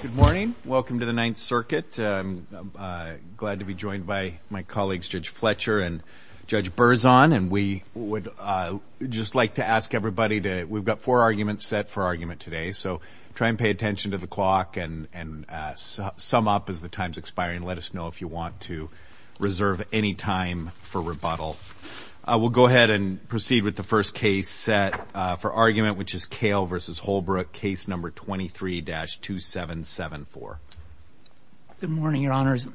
Good morning. Welcome to the Ninth Circuit. I'm glad to be joined by my colleagues Judge Fletcher and Judge Berzon, and we would just like to ask everybody to, we've got four arguments set for argument today, so try and pay attention to the clock and sum up as the time's expiring. Let us know if you want to reserve any time for rebuttal. We'll go ahead and proceed with the first case set for argument, which is Cail v. Holbrook, case number 23-2774. Good morning, Your Honors.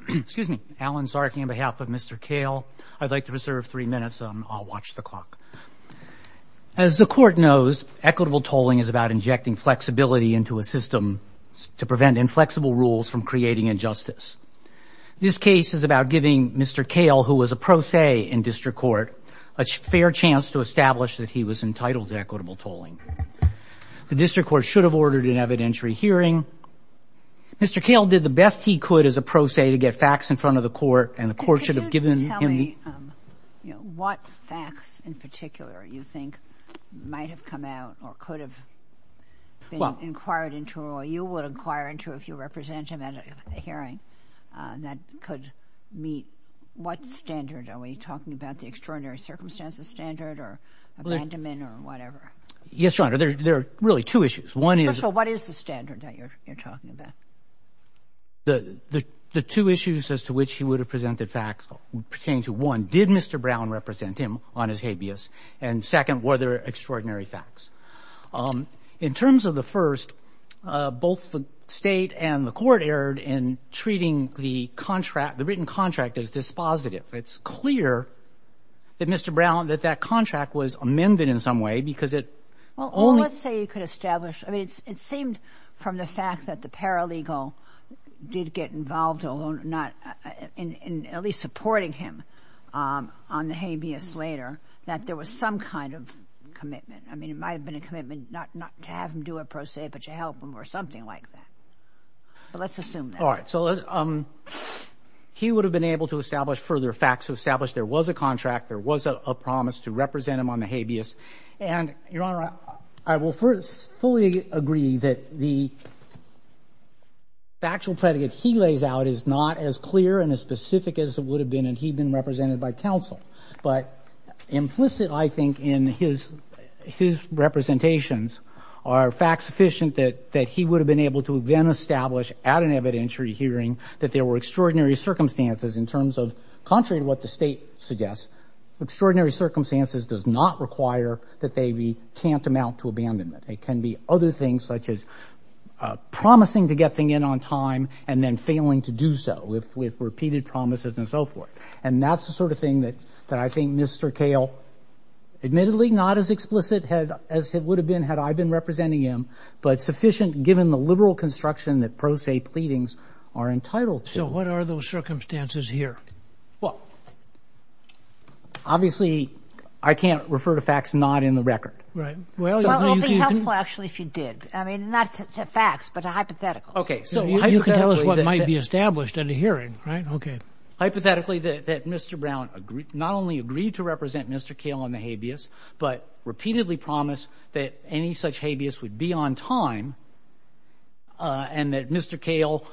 Alan Sarky on behalf of Mr. Cail. I'd like to reserve three minutes, and I'll watch the clock. As the Court knows, equitable tolling is about injecting flexibility into a system to prevent inflexible rules from creating injustice. This case is about giving Mr. Cail, who was a pro se in district court, a fair chance to establish that he was entitled to equitable tolling. The district court should have ordered an evidentiary hearing. Mr. Cail did the best he could as a pro se to get facts in front of the Court, and the Court should have given him the --- Could you tell me what facts in particular you think might have come out or could have been inquired into or you would inquire into if you represent him at a hearing that could meet what standard? Are we talking about the extraordinary circumstances standard or abandonment or whatever? Yes, Your Honor. There are really two issues. One is ---- First of all, what is the standard that you're talking about? The two issues as to which he would have presented facts pertaining to, one, did Mr. Brown represent him on his habeas, and second, were there extraordinary facts? In terms of the first, both the State and the Court erred in treating the written contract as dispositive. It's clear that Mr. Brown, that that contract was amended in some way because it only ---- Well, let's say you could establish. I mean, it seemed from the fact that the paralegal did get involved in at least supporting him on the habeas later that there was some kind of commitment. I mean, it might have been a commitment not to have him do a pro se, but to help him or something like that. But let's assume that. All right. So he would have been able to establish further facts to establish there was a contract, there was a promise to represent him on the habeas. And, Your Honor, I will first fully agree that the factual predicate he lays out is not as clear and as specific as it would have been if he'd been represented by counsel. But implicit, I think, in his representations are facts sufficient that he would have been able to then establish at an evidentiary hearing that there were extraordinary circumstances in terms of, contrary to what the State suggests, extraordinary circumstances does not require that they be tantamount to abandonment. It can be other things such as promising to get things in on time and then failing to do so with repeated promises and so forth. And that's the sort of thing that I think Mr. Cale, admittedly not as as it would have been had I been representing him, but sufficient given the liberal construction that pro se pleadings are entitled to. So what are those circumstances here? Well, obviously, I can't refer to facts not in the record. Right. Well, I'll be helpful, actually, if you did. I mean, not to facts, but a hypothetical. Okay. So you can tell us what might be established in the hearing. Right. Okay. Hypothetically, that Mr. Brown agreed not only to represent Mr. Cale on the habeas, but repeatedly promised that any such habeas would be on time and that Mr. Cale,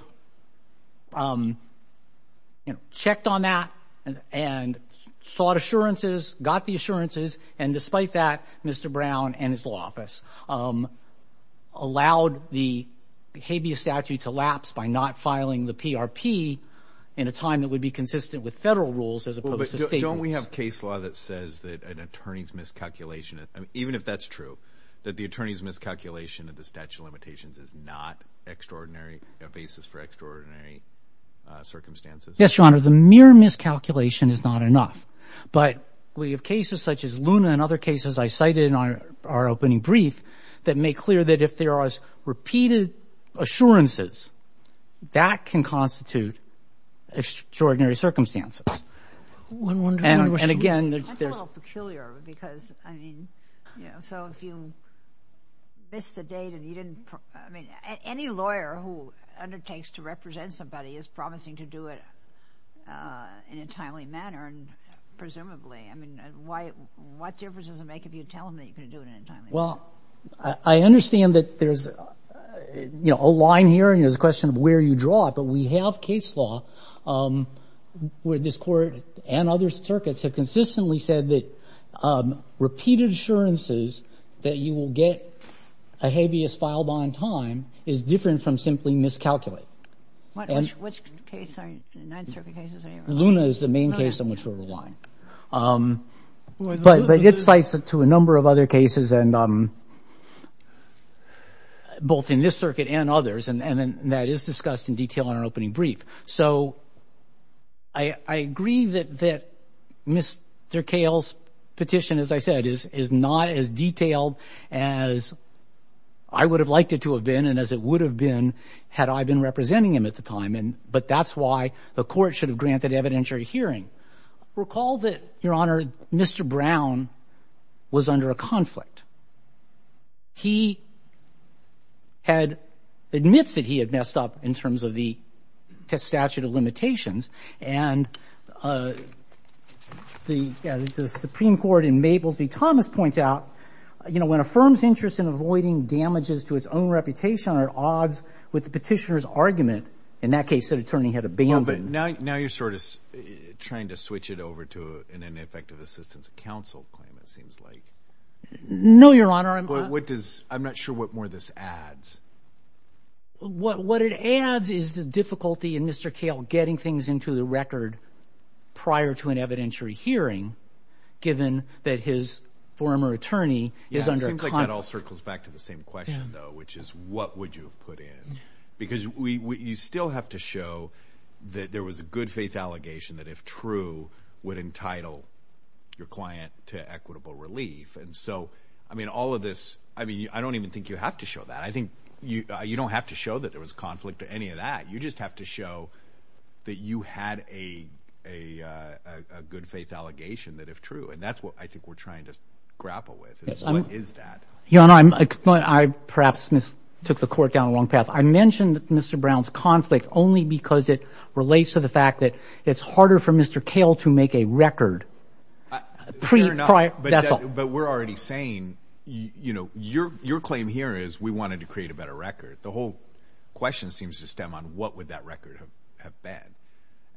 you know, checked on that and sought assurances, got the assurances. And despite that, Mr. Brown and his law office allowed the habeas statute to lapse by not filing the PRP in a time that would be consistent with federal rules as opposed to state rules. We have case law that says that an attorney's miscalculation, even if that's true, that the attorney's miscalculation of the statute of limitations is not extraordinary, a basis for extraordinary circumstances. Yes, Your Honor, the mere miscalculation is not enough. But we have cases such as Luna and other cases I cited in our opening brief that make clear that if there are repeated assurances, that can constitute extraordinary circumstances. I'm wondering... And again... That's a little peculiar because, I mean, you know, so if you missed the date and you didn't... I mean, any lawyer who undertakes to represent somebody is promising to do it in a timely manner, presumably. I mean, what difference does it make if you tell me you're going to do it in a timely manner? Well, I understand that there's, you know, a line here and there's a question of where you draw it, but we have case law where this Court and other circuits have consistently said that repeated assurances that you will get a habeas filed on time is different from simply miscalculate. Which case are you... The Ninth Circuit cases? Luna is the main case on which we're relying. But it cites to a number of other cases and both in this circuit and others, and that is discussed in detail in our opening brief. So I agree that Mr. Kale's petition, as I said, is not as detailed as I would have liked it to have been and as it would have been had I been representing him at the time. But that's why the Court should have granted evidentiary hearing. Recall that, Your Honor, Mr. Brown was under a conflict. He admits that he had messed up in terms of the statute of limitations and the Supreme Court in Mables v. Thomas points out, you know, when a firm's interest in avoiding damages to its own reputation are at odds with the petitioner's argument, in that case, the attorney had abandoned... Now you're sort of trying to switch it over to an ineffective assistance counsel claim, it seems like. No, Your Honor. What does... I'm not sure what more this adds. What it adds is the difficulty in Mr. Kale getting things into the record prior to an evidentiary hearing, given that his former attorney is under conflict. It seems like that all circles back to the same question, though, which is what would you have put in? Because you still have to show that there was a good faith allegation that, if true, would entitle your client to equitable relief. And so, I mean, all of this, I mean, I don't even think you have to show that. I think you don't have to show that there was conflict or any of that. You just have to show that you had a good faith allegation that, if true, and that's what I think we're trying to grapple with. What is that? Your Honor, I perhaps took the Court down the wrong path. I mentioned Mr. Brown's conflict only because it relates to the fact that it's harder for Mr. Kale to make a record. That's all. But we're already saying, you know, your claim here is we wanted to create a better record. The whole question seems to stem on what would that record have been.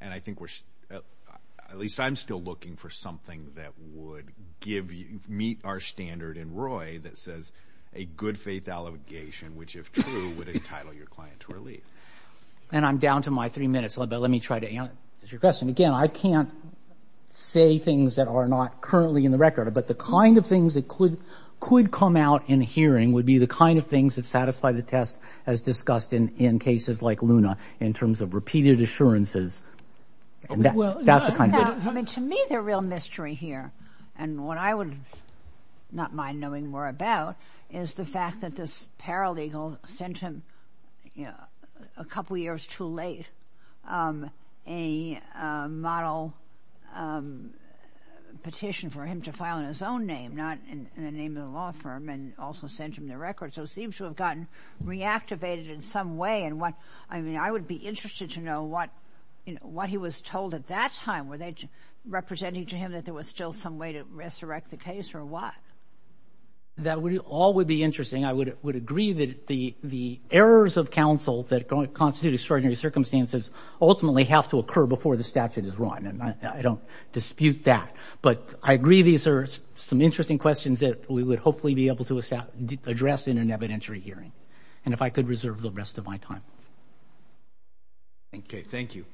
And I think we're, at least I'm still looking for something that would give you, in Roy, that says a good faith allegation, which, if true, would entitle your client to relief. And I'm down to my three minutes, but let me try to answer your question. Again, I can't say things that are not currently in the record, but the kind of things that could come out in hearing would be the kind of things that satisfy the test as discussed in cases like Luna, in terms of repeated assurances. That's the kind of thing. I mean, to me, the real mystery here, and what I would not mind knowing more about, is the fact that this paralegal sent him, you know, a couple years too late, a model petition for him to file in his own name, not in the name of the law firm, and also sent him the record. So it seems to have gotten reactivated in some way. And what, I mean, I would be interested to know what, you know, what he was told at that time. Were they representing to him that there was still some way to resurrect the case, or what? That all would be interesting. I would agree that the errors of counsel that constitute extraordinary circumstances ultimately have to occur before the statute is run, and I don't dispute that. But I agree these are some interesting questions that we would hopefully be able to address in an evidentiary hearing, and if I could reserve the rest of my time. Okay, thank you.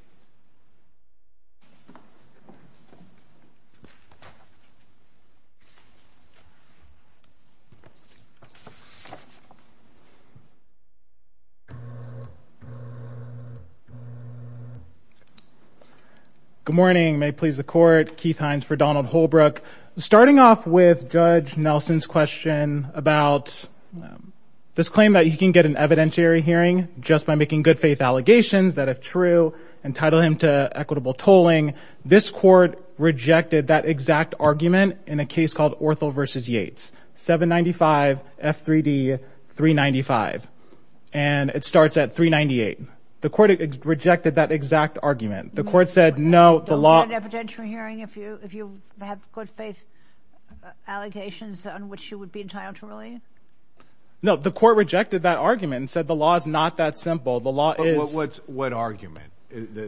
Good morning. May it please the Court. Keith Hines for Donald Holbrook. Starting off with Judge Nelson's question about this claim that you can get an evidentiary hearing just by making good-faith allegations that, if true, entitle him to equitable tolling, this Court rejected that exact argument in a case called Ortho v. Yates, 795 F3D 395, and it starts at 398. The Court rejected that exact argument. The Court said, no, the law... You don't get an evidentiary hearing if you have good-faith allegations on which you would be entitled to relay? No, the Court rejected that argument and said the law is not that simple. The law is... What argument?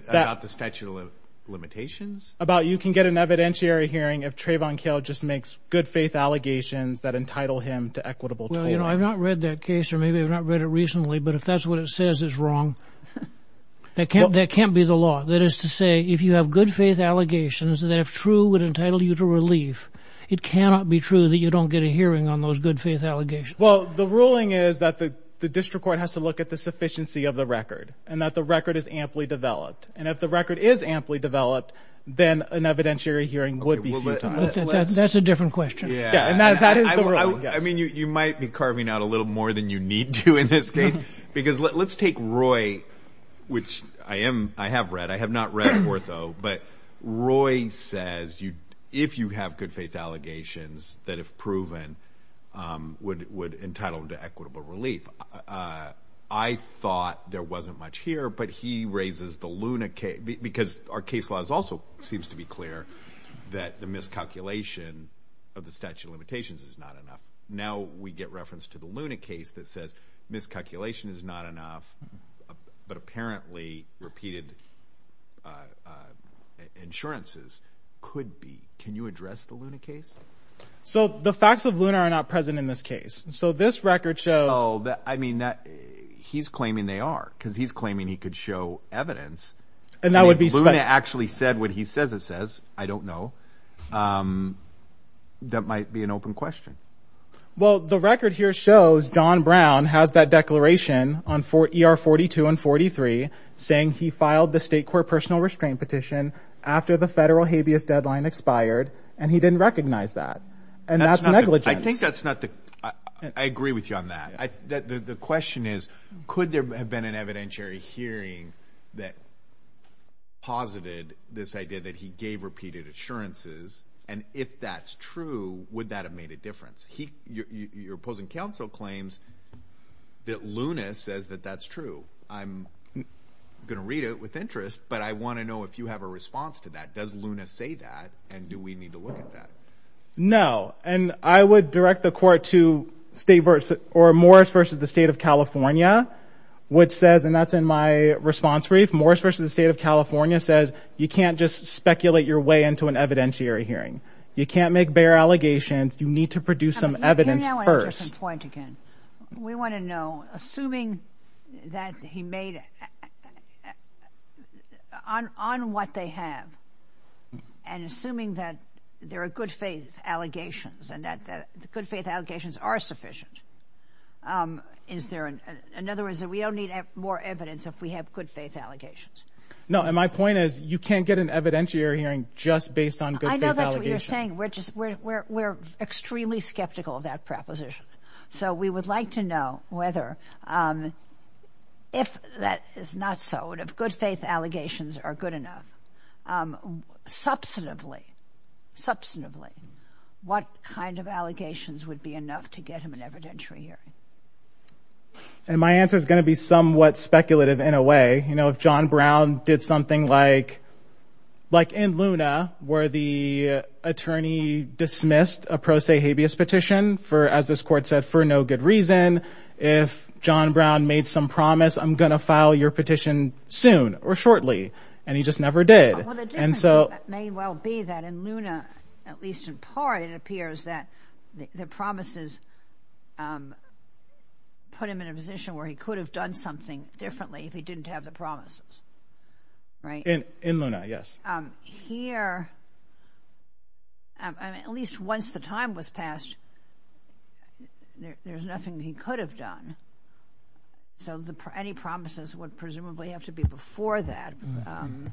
About the statute of limitations? About you can get an evidentiary hearing if Trayvon Kail just makes good-faith allegations that entitle him to equitable tolling. Well, you know, I've not read that case, or maybe I've not read it recently, but if that's what it says, it's wrong. That can't be the law. That is to say, if you have good-faith allegations that, if true, would entitle you to relief, it cannot be true that you don't get a hearing on those allegations. Well, the ruling is that the District Court has to look at the sufficiency of the record and that the record is amply developed. And if the record is amply developed, then an evidentiary hearing would be futile. That's a different question. I mean, you might be carving out a little more than you need to in this case, because let's take Roy, which I have read. I have not read Ortho, but Roy says, if you have good-faith allegations that, if proven, would entitle him to equitable relief. I thought there wasn't much here, but he raises the Luna case, because our case law also seems to be clear that the miscalculation of the statute of limitations is not enough. Now, we get reference to the Luna case that says miscalculation is not enough, but apparently repeated insurances could be. Can you address the Luna case? So, the facts of Luna are not present in this case. So, this record shows... Oh, I mean, he's claiming they are, because he's claiming he could show evidence. And that would be... Luna actually said what he says it says. I don't know. That might be an open question. Well, the record here shows John Brown has that declaration on ER 42 and 43, saying he filed the state court personal restraint petition after the federal habeas deadline expired, and he didn't recognize that. And that's negligence. I think that's not the... I agree with you on that. The question is, could there have been an evidentiary hearing that posited this idea that he gave repeated insurances? And if that's true, would that have made a difference? Your opposing counsel claims that Luna says that that's true. I'm going to read it with interest, but I want to know if you have a response to that. Does Luna say that? And do we need to look at that? No. And I would direct the court to Morris v. The State of California, which says, and that's in my response brief, Morris v. The State of California says, you can't just speculate your way into an evidentiary hearing. You can't make bare allegations. You need to produce some evidence first. Here's an interesting point again. We want to know, assuming that he made it on what they have, and assuming that there are good faith allegations, and that the good faith allegations are sufficient, is there... In other words, we don't need more evidence if we have good faith allegations. No. And my point is, you can't get an evidentiary hearing just based on good faith allegations. I know that's what you're saying. We're extremely skeptical of that proposition. So, we would like to know whether, if that is not so, and if good faith allegations are good enough, substantively, what kind of allegations would be enough to get him an evidentiary hearing? And my answer is going to be somewhat speculative, in a way. If John Brown did something like, like in Luna, where the attorney dismissed a pro se habeas petition for, as this court said, for no good reason. If John Brown made some promise, I'm going to file your petition soon or shortly. And he just never did. And so... May well be that in Luna, at least in part, it appears that the promises put him in a position where he could have done something differently if he didn't have the promises. Right? In Luna, yes. Here, at least once the time was passed, there's nothing he could have done. So, any promises would presumably have to be before that. Um,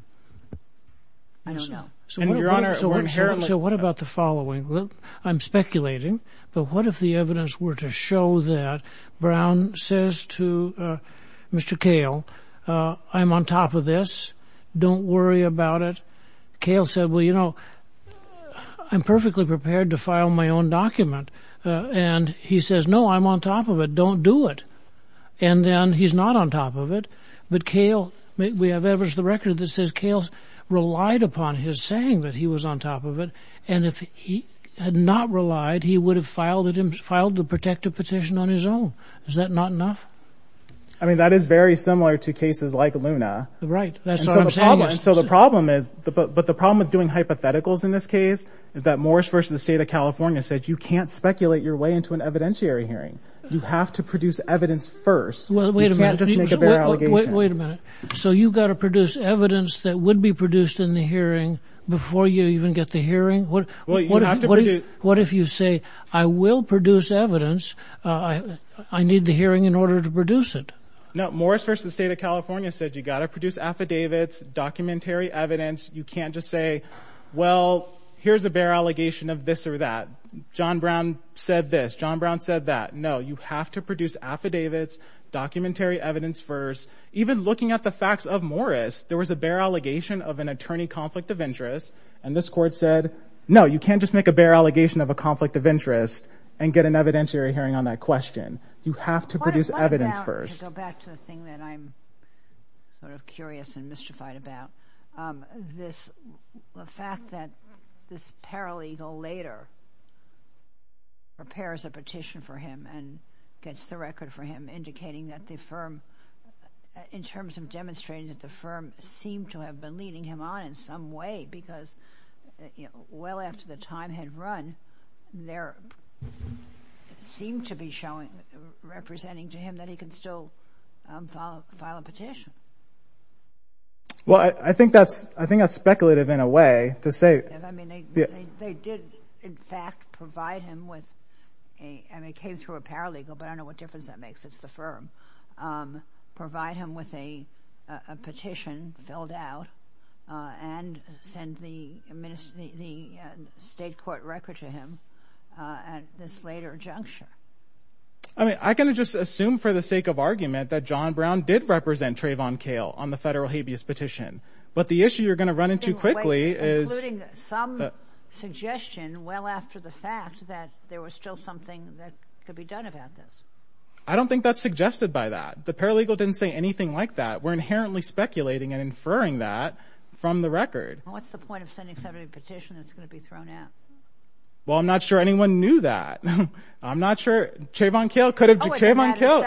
I don't know. So, what about the following? I'm speculating, but what if the evidence were to show that Brown says to Mr. Kahle, I'm on top of this. Don't worry about it. Kahle said, well, you know, I'm perfectly prepared to file my own document. And he says, no, I'm on top of it. Don't do it. And then he's not on top of it. But Kahle, we have evidence of the record that says Kahle relied upon his saying that he was on top of it. And if he had not relied, he would have filed the protective petition on his own. Is that not enough? I mean, that is very similar to cases like Luna. Right. That's what I'm saying. And so the problem is, but the problem with doing hypotheticals in this case is that Morris v. The State of California said you can't speculate your way into an hearing. You have to produce evidence first. You can't just make a bare allegation. Wait a minute. So you've got to produce evidence that would be produced in the hearing before you even get the hearing? What if you say, I will produce evidence. I need the hearing in order to produce it. No, Morris v. The State of California said you got to produce affidavits, documentary evidence. You can't just say, well, here's a bare allegation of this or that. John Brown said this. John Brown said that. No, you have to produce affidavits, documentary evidence first. Even looking at the facts of Morris, there was a bare allegation of an attorney conflict of interest. And this court said, no, you can't just make a bare allegation of a conflict of interest and get an evidentiary hearing on that question. You have to produce evidence first. Go back to the thing that I'm sort of curious and mystified about. This fact that this paralegal later prepares a petition for him and gets the record for him, indicating that the firm, in terms of demonstrating that the firm seemed to have been leading him on in some way, because well after the time had run, there seemed to be representing to him that he can still file a petition. Well, I think that's, I think that's speculative in a way to say. Speculative. I mean, they did in fact provide him with a, I mean, came through a paralegal, but I don't know what difference that makes. It's the firm. Provide him with a petition filled out and send the state court record to him at this later juncture. I mean, I can just assume for the sake of argument that John Brown did represent Trayvon Kail on the federal habeas petition. But the issue you're going to run into quickly is some suggestion well after the fact that there was still something that could be done about this. I don't think that's suggested by that. The paralegal didn't say anything like that. We're inherently speculating and inferring that from the record. What's the point of sending somebody a petition that's going to be thrown out? Well, I'm not sure anyone knew that. I'm not sure. Trayvon Kail could have. Trayvon Kail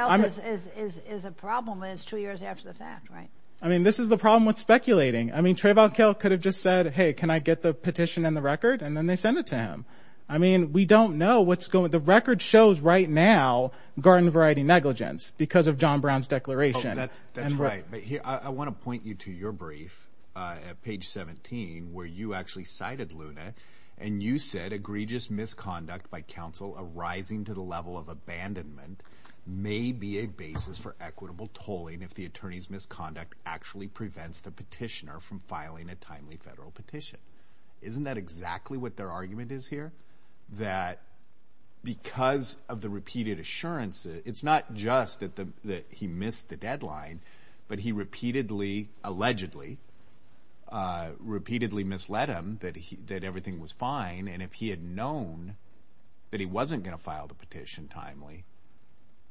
is a problem is two years after the fact, right? I mean, this is the problem with speculating. I mean, Trayvon Kail could have just said, hey, can I get the petition and the record? And then they send it to him. I mean, we don't know what's going. The record shows right now garden variety negligence because of John Brown's declaration. That's right. I want to point you to your brief at page 17 where you actually cited Luna and you said egregious misconduct by counsel arising to the level of abandonment may be a basis for equitable tolling if the attorney's misconduct actually prevents the petitioner from filing a timely federal petition. Isn't that exactly what their argument is here? That because of the repeated assurances, it's not just that he missed the deadline, but he repeatedly, allegedly, repeatedly misled him that he did. Everything was fine. And if he had known that he wasn't going to file the petition timely,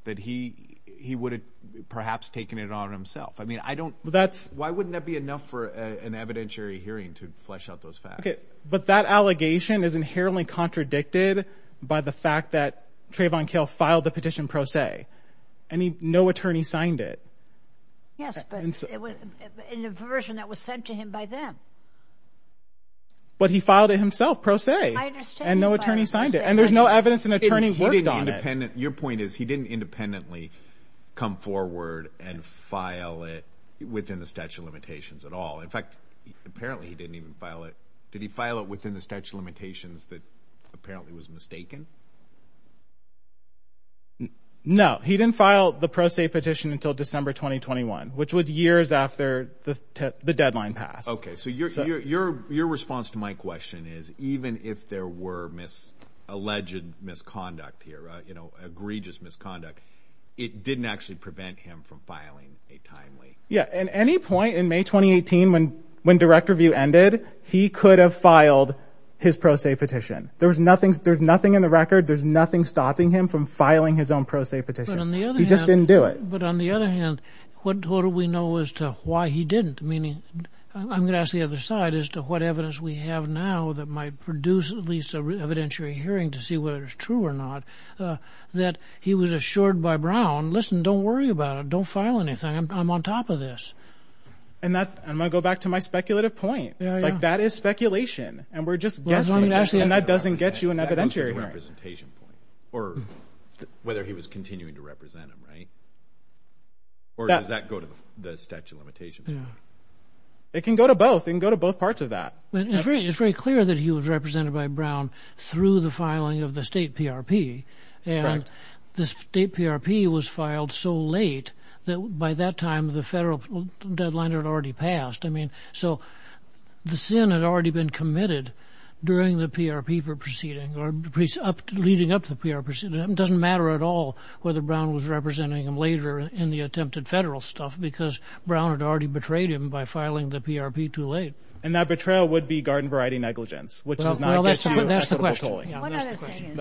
that he he would have perhaps taken it on himself. I mean, I don't. That's why wouldn't that be enough for an evidentiary hearing to flesh out those facts? But that allegation is inherently contradicted by the fact that Trayvon Kail filed the petition, pro se, and no attorney signed it. Yes, but it was in the version that was sent to him by them. But he filed it himself, pro se, and no attorney signed it. And there's no evidence an attorney worked on it. Your point is he didn't independently come forward and file it within the statute of limitations at all. In fact, apparently he didn't even file it. Did he file it within the statute of limitations that apparently was mistaken? No, he didn't file the pro se petition until December 2021, which was years after the deadline passed. OK, so your response to my question is even if there were alleged misconduct here, you know, egregious misconduct, it didn't actually prevent him from filing a timely. Yeah. At any point in May 2018, when when direct review ended, he could have filed his pro se petition. There was nothing. There's nothing in the record. There's nothing stopping him from filing his own pro se petition. He just didn't do it. But on the other hand, what do we know as to why he didn't? Meaning I'm going to ask the other side as to what evidence we have now that might produce at least an evidentiary hearing to see whether it's true or not that he was assured by Brown. Listen, don't worry about it. Don't file anything. I'm on top of this. And that's I'm going to go back to my speculative point. Like that is speculation. And we're just and that doesn't get you an evidentiary representation point or whether he was continuing to represent him. Right. Or does that go to the statute of limitations? It can go to both and go to both parts of that. It's very clear that he was represented by Brown through the filing of the state PRP. And the state PRP was filed so late that by that time, the federal deadline had already passed. I mean, so the Senate had already been committed during the PRP for proceeding or up to leading up to the PRP. It doesn't matter at all whether Brown was representing him later in the attempted federal stuff because Brown had already betrayed him by filing the PRP too late. And that betrayal would be garden variety negligence, which is. Well, that's the question.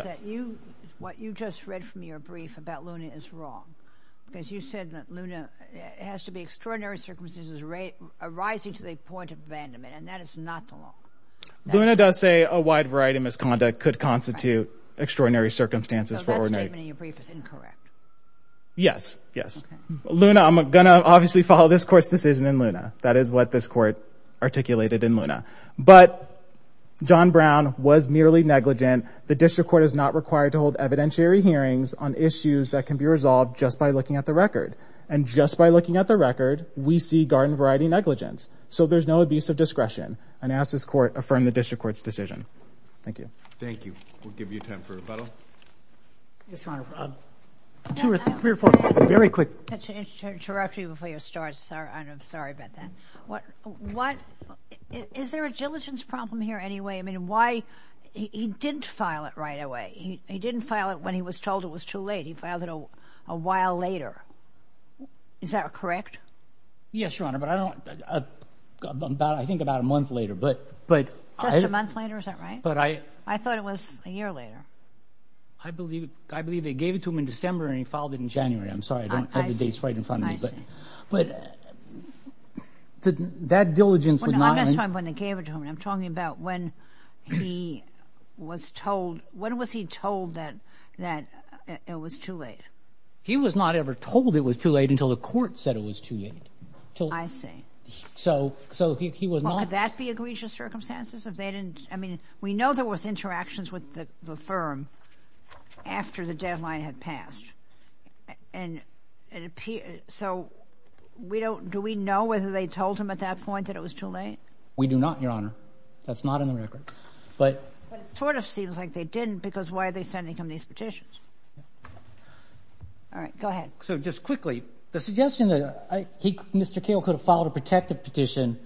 What you just read from your brief about Luna is wrong because you said that Luna has to be extraordinary circumstances arising to the point of abandonment. And that is not the law. Luna does say a wide variety of misconduct could constitute extraordinary circumstances. So that statement in your brief is incorrect. Yes. Yes. Luna, I'm going to obviously follow this court's decision in Luna. That is what this court articulated in Luna. But John Brown was merely negligent. The district court is not required to hold evidentiary hearings on issues that can be resolved just by looking at the record. And just by looking at the record, we see garden variety negligence. So there's no abuse of discretion. And I ask this court to affirm the district court's decision. Thank you. Thank you. We'll give you time for a rebuttal. Yes, Your Honor. Two or three reports. Very quick. I have to interrupt you before you start. I'm sorry about that. Is there a diligence problem anyway? He didn't file it right away. He didn't file it when he was told it was too late. He filed it a while later. Is that correct? Yes, Your Honor. But I think about a month later. Just a month later? Is that right? I thought it was a year later. I believe they gave it to him in December and he filed it in January. I'm sorry. I don't have the dates right in front of me. But that diligence... I'm not talking about when they gave it to him. I'm talking about when he was told... When was he told that it was too late? He was not ever told it was too late until the court said it was too late. I see. So he was not... Well, could that be egregious circumstances if they didn't... I mean, we know there was interactions with the firm after the deadline had passed. And so do we know whether they told him at that point that it was too late? We do not, Your Honor. That's not in the record. But it sort of seems like they didn't because why are they sending him these petitions? All right. Go ahead. So just quickly, the suggestion that Mr. Kale could have filed a protective petition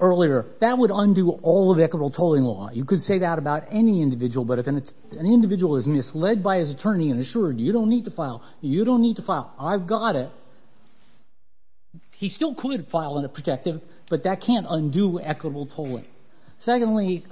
earlier, that would undo all of equitable tolling law. You could say that about any individual. But if an individual is misled by his attorney and assured you don't need to file, you don't need to file, I've got it, he still could file a protective, but that can't undo equitable tolling. Secondly...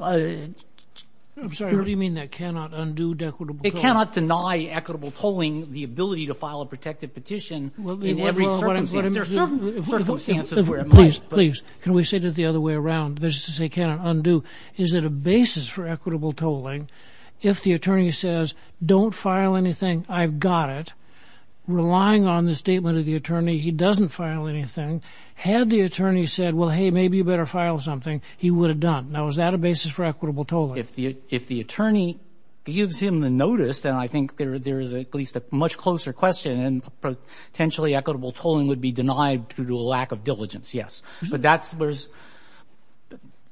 I'm sorry. What do you mean that cannot undo equitable tolling? It cannot deny equitable tolling the ability to file a protective petition in every circumstance. There are certain circumstances where it might, but... Please, please. Can we say that the other way around? This is to say it cannot undo. Is it a basis for equitable tolling if the attorney says, don't file anything, I've got it, relying on the statement of the attorney, he doesn't file anything? Had the attorney said, well, hey, maybe you better file something, he would have done. Now, is that a basis for equitable tolling? If the attorney gives him the notice, then I think there is at least a much closer question and potentially equitable tolling would be denied due to a lack of diligence, yes. But that's...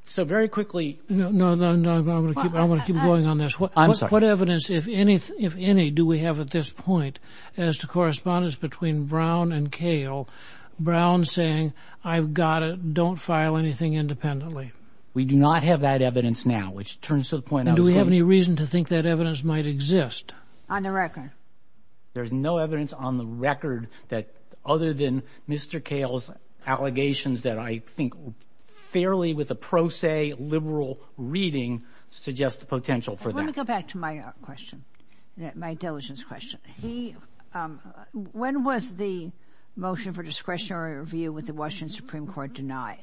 So very quickly... No, no, no, I want to keep going on this. I'm sorry. What evidence, if any, do we have at this point as to correspondence between Brown and Cale, Brown saying, I've got it, don't file anything independently? We do not have that evidence now, which turns to the point... And do we have any reason to think that evidence might exist? On the record. There's no evidence on the record that other than Mr. Cale's allegations that I think fairly with a pro se liberal reading suggest the potential for that. Let me go back to my question, my diligence question. When was the motion for discretionary review with the Washington Supreme Court denied?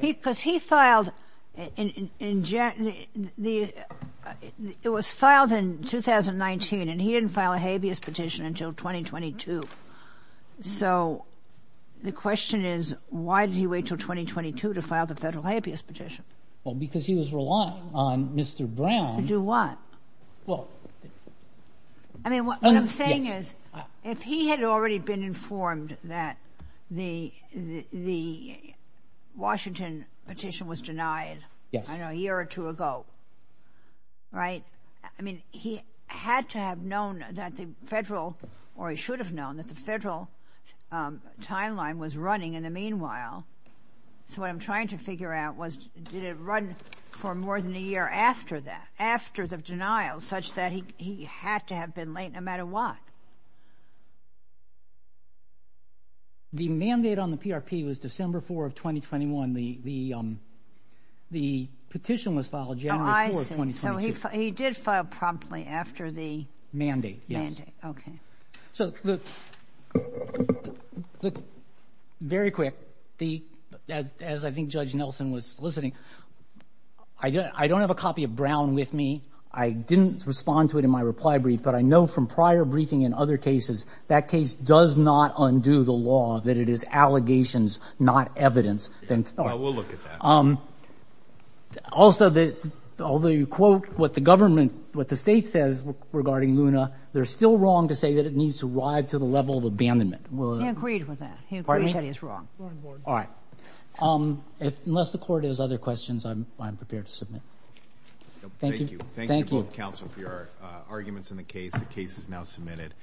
Because he filed... It was filed in 2019 and he didn't file a habeas petition until 2022. So the question is, why did he wait till 2022 to file the federal habeas petition? Well, because he was reliant on Mr. Brown... To do what? Well, I mean, what I'm saying is, if he had already been informed that the Washington petition was denied a year or two ago, right? I mean, he had to have known that the federal, or he should have known that the federal timeline was running in the meanwhile. So what I'm trying to figure out was, did it run for more than a year after that, after the denial such that he had to have been late no matter what? The mandate on the PRP was December 4 of 2021. The petition was filed January 4, 2022. He did file promptly after the... Mandate, yes. Mandate, okay. So very quick, as I think Judge Nelson was listening, I don't have a copy of Brown with me. I didn't respond to it in my reply brief, but I know from prior briefing in other cases, that case does not undo the law, that it is allegations, not evidence. Well, we'll look at that. Also, although you quote what the government, what the state says regarding Luna, they're still wrong to say that it needs to arrive to the level of abandonment. He agreed with that. He agreed that it's wrong. All right. Unless the court has other questions, I'm prepared to submit. Thank you. Thank you both, counsel, for your arguments in the case. The case is now submitted.